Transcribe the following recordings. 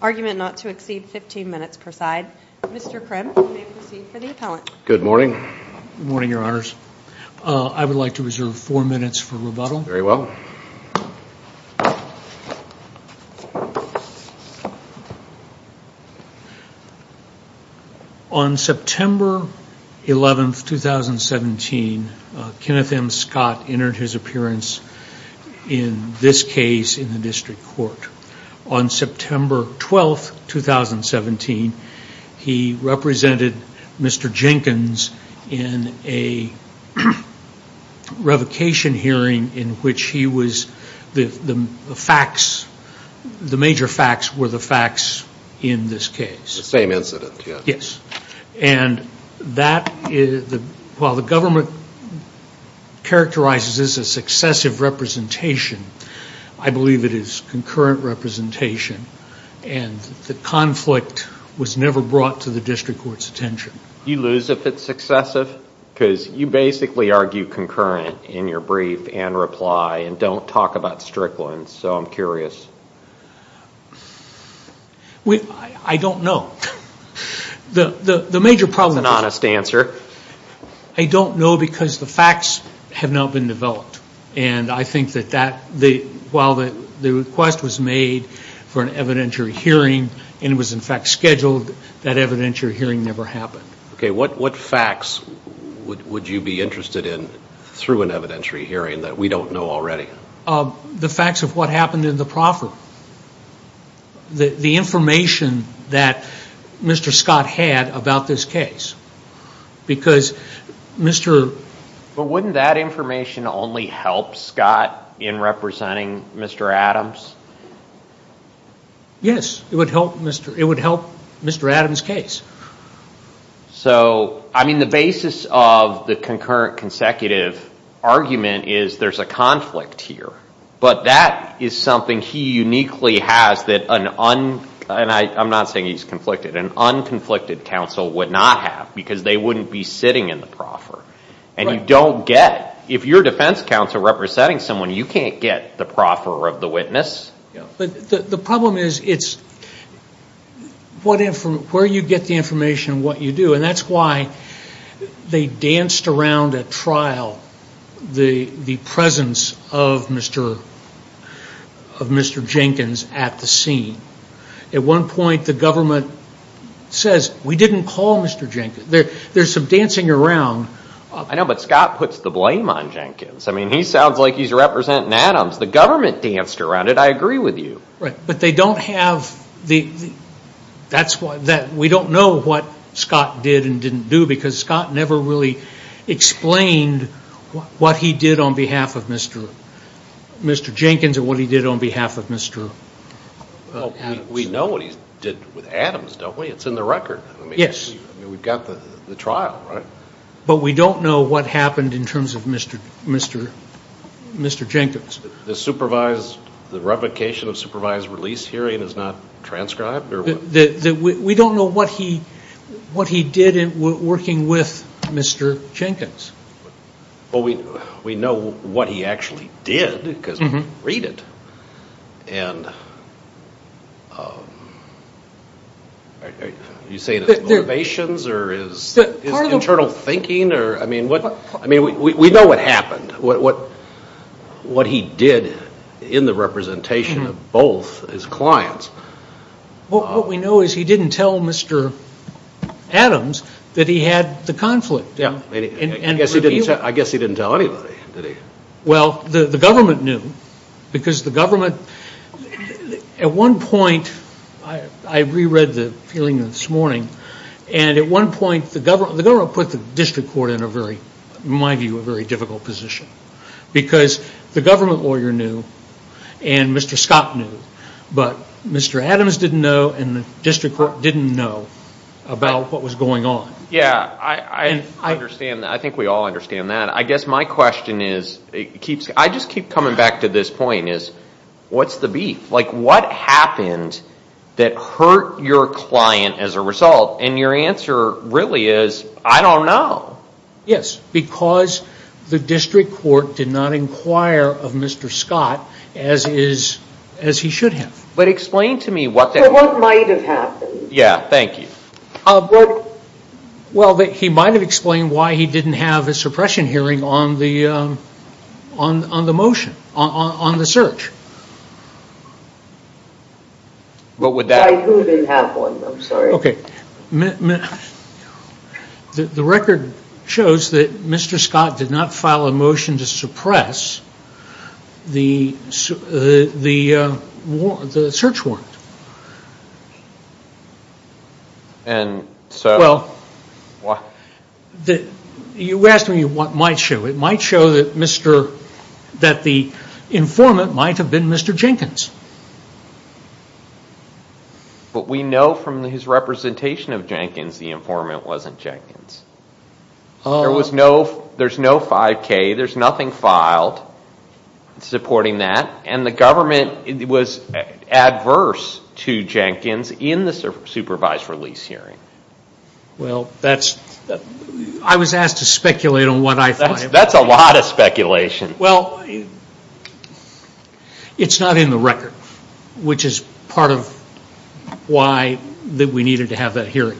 Argument not to exceed 15 minutes per side. Mr. Krim, you may proceed for the appellant. Good morning. Good morning, your honors. I would like to reserve four minutes for rebuttal. Very well. On September 11, 2017, Kenneth M. Scott entered his appearance in this case in the district court. On September 12, 2017, he represented Mr. Jenkins in a revocation hearing in which he was, the facts, the major facts were the facts in this case. The same incident, yes. Yes. And that, while the government characterizes this as excessive representation, I believe it is concurrent representation and the conflict was never brought to the district court's attention. Do you lose if it's successive? Because you basically argue concurrent in your brief and reply and don't talk about strict ones, so I'm curious. I don't know. The major problem is I don't know because the facts have not been developed. And I think that while the request was made for an evidentiary hearing and it was in fact scheduled, that evidentiary hearing never happened. Okay, what facts would you be interested in through an evidentiary hearing that we don't know already? The facts of what happened in the proffer. The information that Mr. Scott had about this case. But wouldn't that information only help Scott in representing Mr. Adams? Yes, it would help Mr. Adams' case. So, I mean, the basis of the concurrent consecutive argument is there's a conflict here. But that is something he uniquely has that an, and I'm not saying he's conflicted, an unconflicted counsel would not have because they wouldn't be sitting in the proffer. And you don't get, if you're defense counsel representing someone, you can't get the proffer of the witness. But the problem is it's where you get the information and what you do. And that's why they danced around at trial the presence of Mr. Jenkins at the scene. At one point the government says, we didn't call Mr. Jenkins. There's some dancing around. I know, but Scott puts the blame on Jenkins. I mean, he sounds like he's representing Adams. The government danced around it. I agree with you. Right, but they don't have the, that's why, we don't know what Scott did and didn't do because Scott never really explained what he did on behalf of Mr. Jenkins or what he did on behalf of Mr. Adams. We know what he did with Adams, don't we? It's in the record. Yes. I mean, we've got the trial, right? But we don't know what happened in terms of Mr. Jenkins. The supervised, the revocation of supervised release hearing is not transcribed? We don't know what he did in working with Mr. Jenkins. Well, we know what he actually did because we read it. And are you saying it's motivations or is internal thinking? I mean, we know what happened, what he did in the representation of both his clients. Well, what we know is he didn't tell Mr. Adams that he had the conflict. I guess he didn't tell anybody, did he? Well, the government knew because the government, at one point, I reread the feeling this morning, and at one point the government put the district court in a very, in my view, a very difficult position because the government lawyer knew and Mr. Scott knew, but Mr. Adams didn't know and the district court didn't know about what was going on. Yes, I understand that. I think we all understand that. I guess my question is, I just keep coming back to this point, is what's the beef? Like, what happened that hurt your client as a result? And your answer really is, I don't know. Yes, because the district court did not inquire of Mr. Scott as he should have. But explain to me what... So what might have happened? Yeah, thank you. Well, he might have explained why he didn't have a suppression hearing on the motion, on the search. What would that... I really didn't have one, I'm sorry. Okay, the record shows that Mr. Scott did not file a motion to suppress the search warrant. And so... You asked me what might show. It might show that the informant might have been Mr. Jenkins. But we know from his representation of Jenkins, the informant wasn't Jenkins. There's no 5K, there's nothing filed supporting that. And the government was adverse to Jenkins in the supervised release hearing. Well, that's... I was asked to speculate on what I thought... That's a lot of speculation. Well, it's not in the record, which is part of why we needed to have that hearing.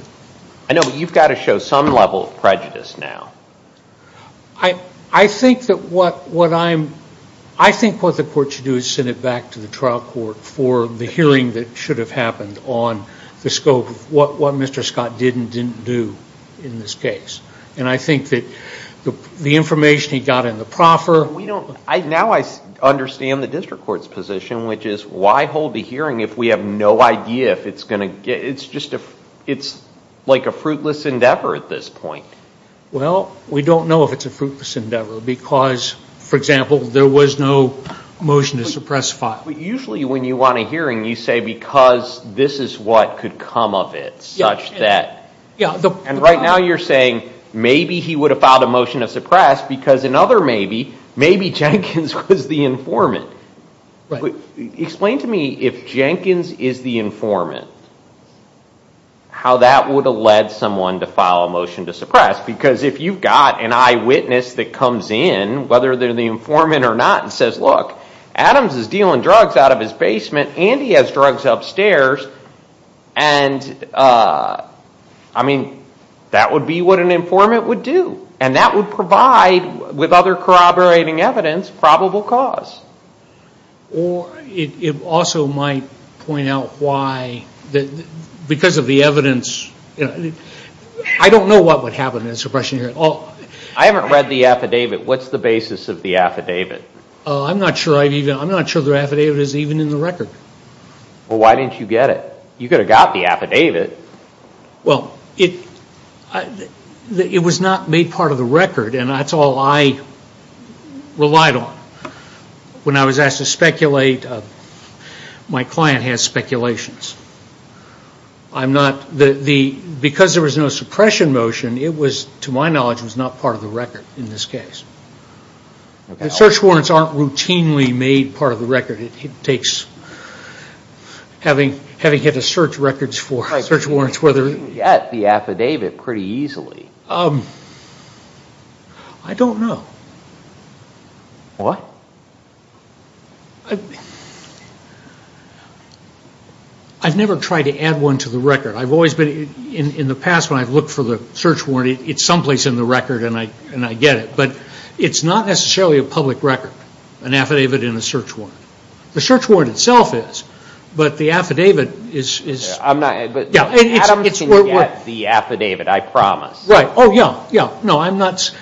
I know, but you've got to show some level of prejudice now. I think that what I'm... I think what the court should do is send it back to the trial court for the hearing that should have happened on the scope of what Mr. Scott did and didn't do in this case. And I think that the information he got in the proffer... Now I understand the district court's position, which is why hold the hearing if we have no idea if it's going to... It's like a fruitless endeavor at this point. Well, we don't know if it's a fruitless endeavor because, for example, there was no motion to suppress file. Usually when you want a hearing, you say because this is what could come of it, such that... And right now you're saying maybe he would have filed a motion to suppress because another maybe, maybe Jenkins was the informant. Explain to me if Jenkins is the informant, how that would have led someone to file a motion to suppress. Because if you've got an eyewitness that comes in, whether they're the informant or not, and says, look, Adams is dealing drugs out of his basement and he has drugs upstairs, and that would be what an informant would do. And that would provide, with other corroborating evidence, probable cause. Or it also might point out why, because of the evidence... I don't know what would happen in a suppression hearing. I haven't read the affidavit. What's the basis of the affidavit? I'm not sure the affidavit is even in the record. Well, why didn't you get it? You could have got the affidavit. Well, it was not made part of the record, and that's all I relied on. When I was asked to speculate, my client has speculations. Because there was no suppression motion, it was, to my knowledge, not part of the record in this case. The search warrants aren't routinely made part of the record. Having had to search records for search warrants... Why couldn't you get the affidavit pretty easily? I don't know. What? I've never tried to add one to the record. In the past, when I've looked for the search warrant, it's someplace in the record and I get it. But it's not necessarily a public record, an affidavit in a search warrant. The search warrant itself is, but the affidavit is... Adam can get the affidavit, I promise. Right. Oh, yeah.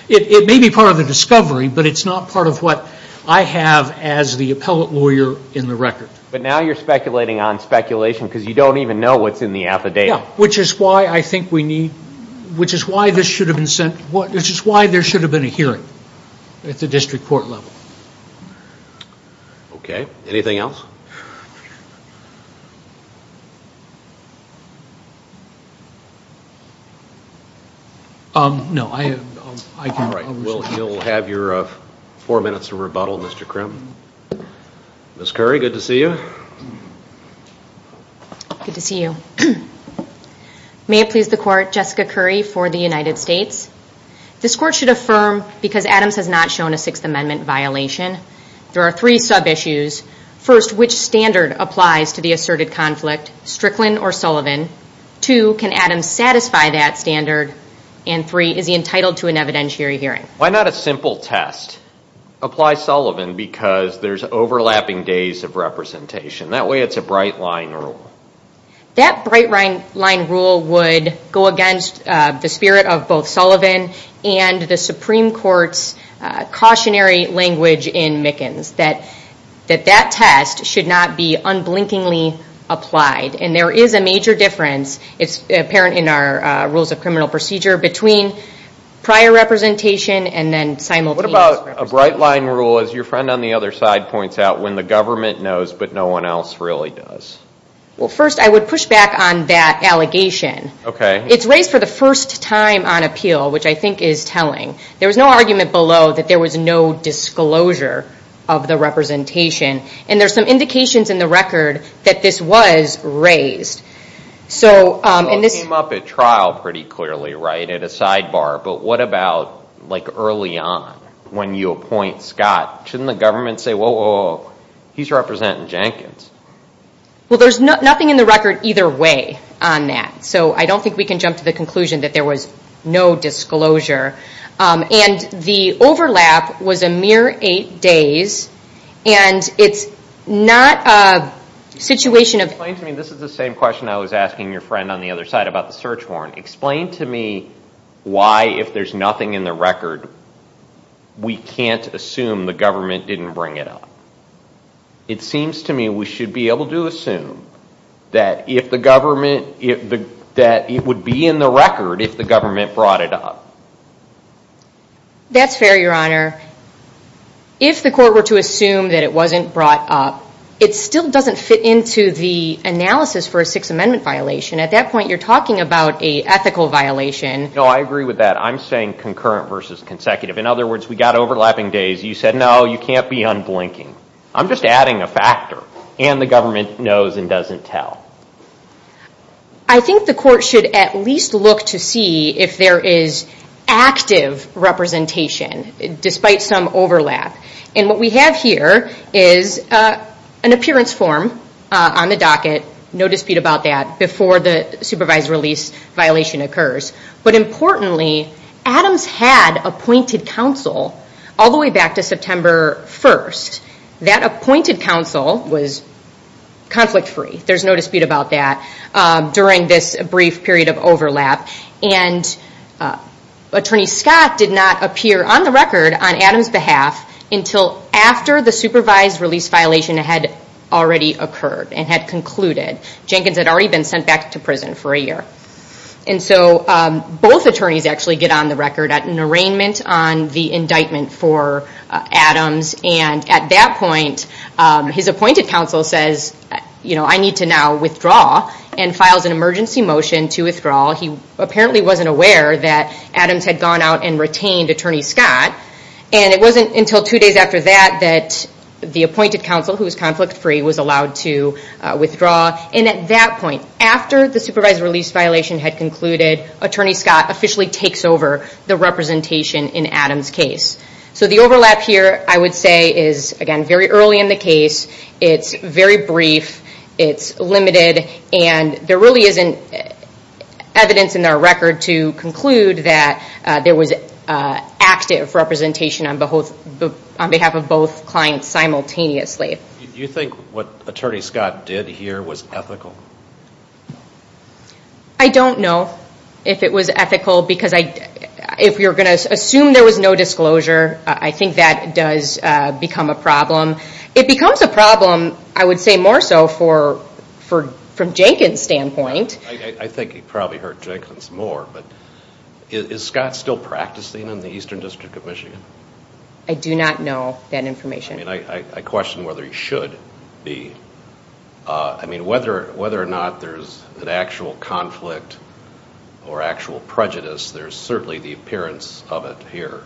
It may be part of the discovery, but it's not part of what I have as the appellate lawyer in the record. But now you're speculating on speculation because you don't even know what's in the affidavit. Yeah, which is why I think we need... Which is why there should have been a hearing at the district court level. Okay. Anything else? No. All right. We'll have your four minutes to rebuttal, Mr. Krim. Ms. Curry, good to see you. Good to see you. May it please the court, Jessica Curry for the United States. This court should affirm, because Adams has not shown a Sixth Amendment violation, there are three sub-issues. First, which standard applies to the asserted conflict, Strickland or Sullivan? Two, can Adams satisfy that standard? And three, is he entitled to an evidentiary hearing? Why not a simple test? Apply Sullivan because there's overlapping days of representation. That way it's a bright-line rule. That bright-line rule would go against the spirit of both Sullivan and the Supreme Court's cautionary language in Mickens, that that test should not be unblinkingly applied. And there is a major difference. It's apparent in our rules of criminal procedure between prior representation and then simultaneous representation. What about a bright-line rule, as your friend on the other side points out, when the government knows but no one else really does? Well, first I would push back on that allegation. Okay. It's raised for the first time on appeal, which I think is telling. There was no argument below that there was no disclosure of the representation. And there's some indications in the record that this was raised. It came up at trial pretty clearly, right, at a sidebar. But what about early on when you appoint Scott? Shouldn't the government say, whoa, whoa, whoa, he's representing Jenkins? Well, there's nothing in the record either way on that. So I don't think we can jump to the conclusion that there was no disclosure. And the overlap was a mere eight days. And it's not a situation of Explain to me, this is the same question I was asking your friend on the other side about the search warrant. Explain to me why, if there's nothing in the record, we can't assume the government didn't bring it up. It seems to me we should be able to assume that if the government, that it would be in the record if the government brought it up. That's fair, Your Honor. If the court were to assume that it wasn't brought up, it still doesn't fit into the analysis for a Sixth Amendment violation. At that point, you're talking about an ethical violation. No, I agree with that. I'm saying concurrent versus consecutive. In other words, we've got overlapping days. You said, no, you can't be unblinking. I'm just adding a factor. And the government knows and doesn't tell. I think the court should at least look to see if there is active representation, despite some overlap. And what we have here is an appearance form on the docket. No dispute about that, before the supervised release violation occurs. But importantly, Adams had appointed counsel all the way back to September 1st. That appointed counsel was conflict-free. There's no dispute about that during this brief period of overlap. And Attorney Scott did not appear on the record on Adams' behalf until after the supervised release violation had already occurred and had concluded. Jenkins had already been sent back to prison for a year. And so both attorneys actually get on the record at an arraignment on the indictment for Adams. And at that point, his appointed counsel says, I need to now withdraw, and files an emergency motion to withdraw. He apparently wasn't aware that Adams had gone out and retained Attorney Scott. And it wasn't until two days after that that the appointed counsel, who was conflict-free, was allowed to withdraw. And at that point, after the supervised release violation had concluded, Attorney Scott officially takes over the representation in Adams' case. So the overlap here, I would say, is, again, very early in the case. It's very brief. It's limited. And there really isn't evidence in our record to conclude that there was active representation on behalf of both clients simultaneously. Do you think what Attorney Scott did here was ethical? I don't know if it was ethical, because if you're going to assume there was no disclosure, I think that does become a problem. It becomes a problem, I would say, more so from Jenkins' standpoint. I think he probably hurt Jenkins more. But is Scott still practicing in the Eastern District of Michigan? I do not know that information. I question whether he should be. Whether or not there's an actual conflict or actual prejudice, there's certainly the appearance of it here.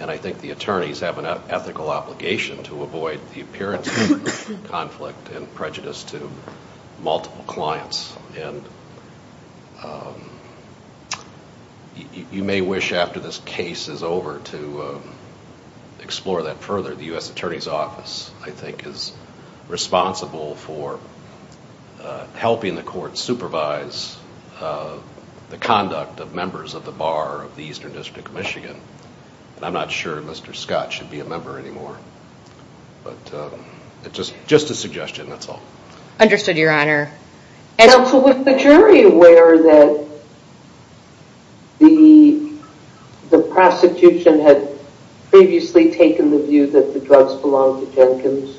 And I think the attorneys have an ethical obligation to avoid the appearance of conflict and prejudice to multiple clients. And you may wish after this case is over to explore that further. The U.S. Attorney's Office, I think, is responsible for helping the court supervise the conduct of members of the bar of the Eastern District of Michigan. And I'm not sure Mr. Scott should be a member anymore. But it's just a suggestion, that's all. Now, so was the jury aware that the prosecution had previously taken the view that the drugs belonged to Jenkins?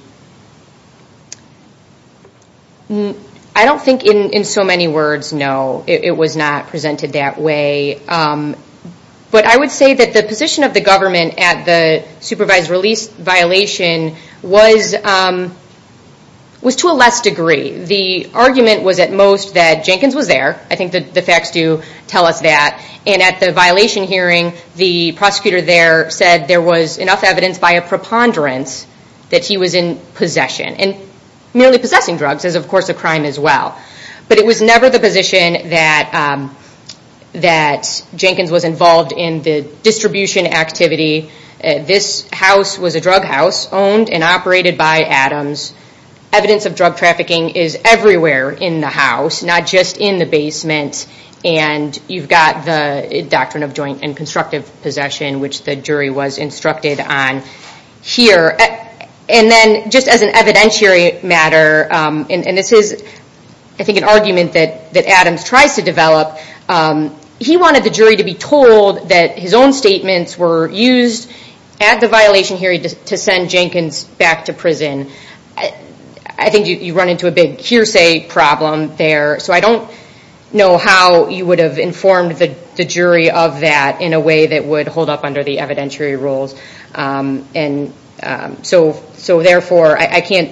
I don't think in so many words, no, it was not presented that way. But I would say that the position of the government at the supervised release violation was to a less degree. The argument was at most that Jenkins was there. I think the facts do tell us that. And at the violation hearing, the prosecutor there said there was enough evidence by a preponderance that he was in possession. And merely possessing drugs is of course a crime as well. But it was never the position that Jenkins was involved in the distribution activity. This house was a drug house owned and operated by Adams. Evidence of drug trafficking is everywhere in the house. Not just in the basement. And you've got the doctrine of joint and constructive possession, which the jury was instructed on here. And then just as an evidentiary matter, and this is I think an argument that Adams tries to develop, he wanted the jury to be told that his own statements were used at the violation hearing to send Jenkins back to prison. I think you run into a big hearsay problem there. So I don't know how you would have informed the jury of that in a way that would hold up under the evidentiary rules. So therefore I can't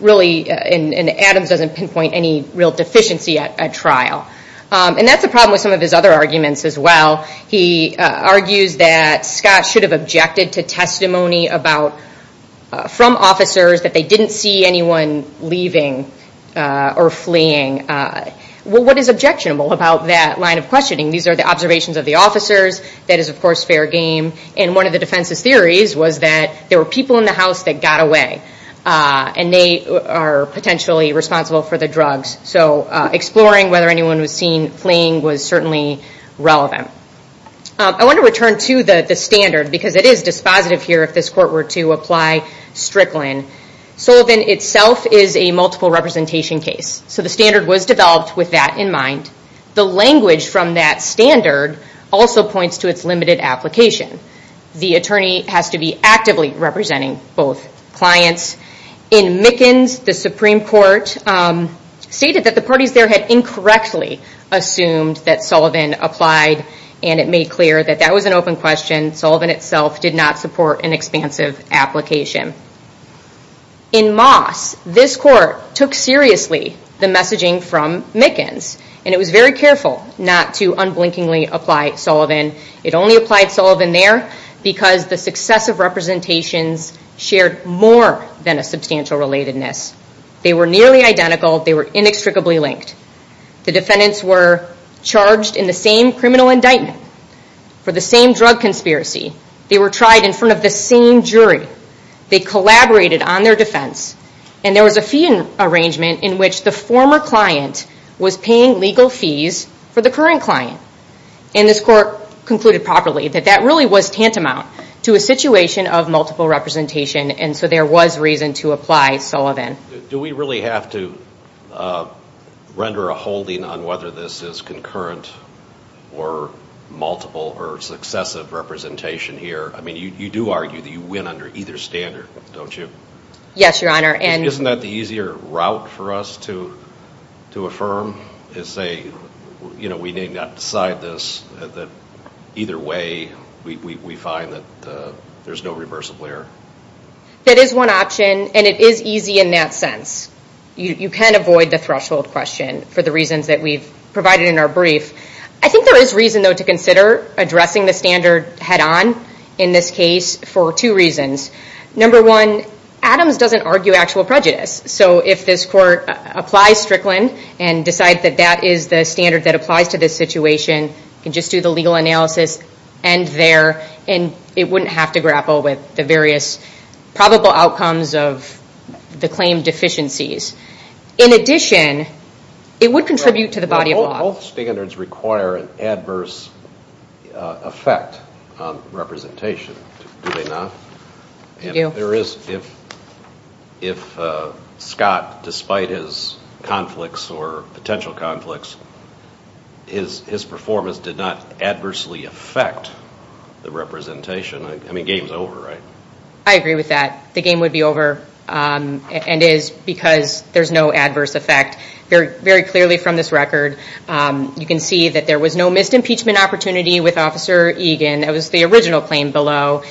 really, and Adams doesn't pinpoint any real deficiency at trial. And that's a problem with some of his other arguments as well. He argues that Scott should have objected to testimony from officers that they didn't see anyone leaving or fleeing. What is objectionable about that line of questioning? These are the observations of the officers. That is of course fair game. And one of the defense's theories was that there were people in the house that got away. And they are potentially responsible for the drugs. So exploring whether anyone was seen fleeing was certainly relevant. I want to return to the standard, because it is dispositive here if this court were to apply Strickland. Sullivan itself is a multiple representation case. So the standard was developed with that in mind. The language from that standard also points to its limited application. The attorney has to be actively representing both clients. In Mickens, the Supreme Court stated that the parties there had incorrectly assumed that Sullivan applied and it made clear that that was an open question. Sullivan itself did not support an expansive application. In Moss, this court took seriously the messaging from Mickens. And it was very careful not to unblinkingly apply Sullivan. It only applied Sullivan there because the successive representations shared more than a substantial relatedness. They were nearly identical. They were inextricably linked. The defendants were charged in the same criminal indictment for the same drug conspiracy. They were tried in front of the same jury. They collaborated on their defense. And there was a fee arrangement in which the former client was paying legal fees for the current client. And this court concluded properly that that really was tantamount to a situation of multiple or successive representation here. I mean, you do argue that you win under either standard, don't you? Yes, Your Honor. Isn't that the easier route for us to affirm? You know, we need not decide this. Either way, we find that there's no reversible error. That is one option. And it is easy in that sense. You can avoid the threshold question for the reasons that we've provided in our brief. I think there is reason, though, to consider addressing the standard head-on in this case for two reasons. Number one, Adams doesn't argue actual prejudice. So if this court applies Strickland and decides that that is the standard that applies to this situation, you can just do the legal analysis, end there, and it wouldn't have to grapple with the various probable outcomes of the claim deficiencies. In addition, it would contribute to the body of law. Both standards require an adverse effect on representation, do they not? They do. There is. If Scott, despite his conflicts or potential conflicts, his performance did not adversely affect the representation, I mean, game's over, right? I agree with that. The game would be over and is because there's no adverse effect. Very clearly from this record, you can see that there was no missed impeachment opportunity with Officer Egan. It was the original claim below.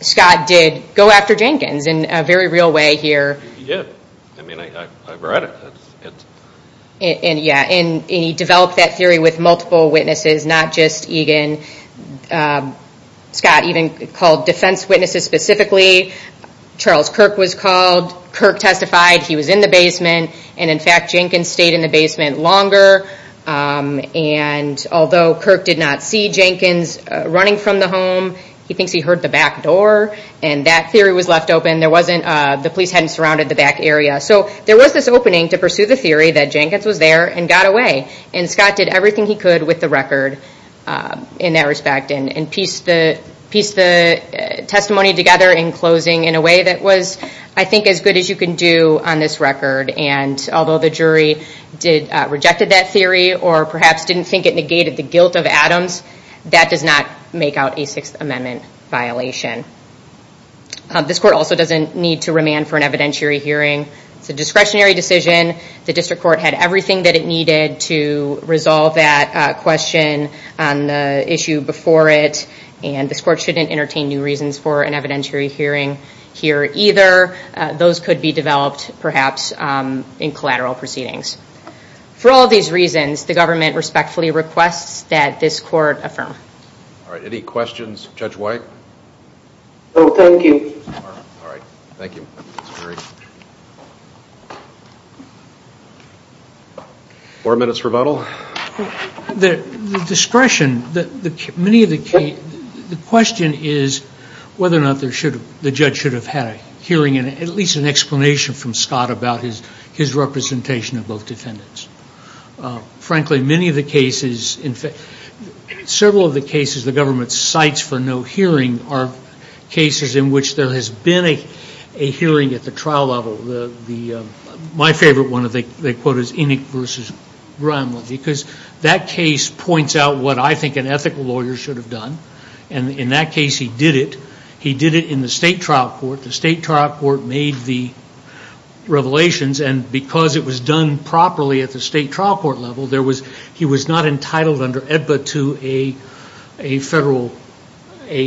Scott did go after Jenkins in a very real way here. Yeah, I read it. He developed that theory with multiple witnesses, not just Egan. Scott even called defense witnesses specifically. Charles Kirk was called. Kirk testified. He was in the basement. In fact, Jenkins stayed in the basement longer. Although Kirk did not see Jenkins running from the home, he thinks he heard the back door. That theory was left open. The police hadn't surrounded the back area. There was this opening to pursue the theory that Jenkins was there and got away. Scott did everything he could with the record in that respect and pieced the testimony together in closing in a way that was I think as good as you can do on this record. Although the jury rejected that theory or perhaps didn't think it negated the guilt of Adams, that does not make out a Sixth Amendment violation. This court also doesn't need to remand for an evidentiary hearing. It's a discretionary decision. The district court had everything that it needed to resolve that question on the issue before it. This court shouldn't entertain new reasons for an evidentiary hearing here either. Those could be developed perhaps in collateral proceedings. For all these reasons, the government respectfully requests that this court affirm. Any questions of Judge White? Four minutes for rebuttal. The question is whether or not the judge should have had a hearing and at least an explanation from Scott about his representation of both defendants. Frankly, many of the cases, several of the cases the government cites for no hearing are cases in which there has been a hearing at the trial level. My favorite one they quote is Enoch versus Grimland because that case points out what I think an ethical lawyer should have done. In that case he did it. He did it in the state trial court. The state trial court made the revelations and because it was done properly at the state trial court level, he was not entitled under EBBA to a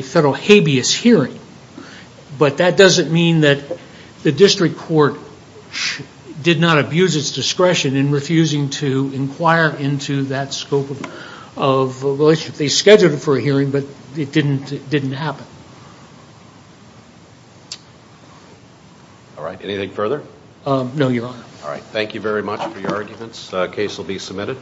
federal habeas hearing. But that doesn't mean that the district court did not abuse its discretion in refusing to inquire into that scope of relationship. They scheduled it for a hearing but it didn't happen. Alright, anything further? No, Your Honor. Alright, thank you very much for your arguments. The case will be submitted.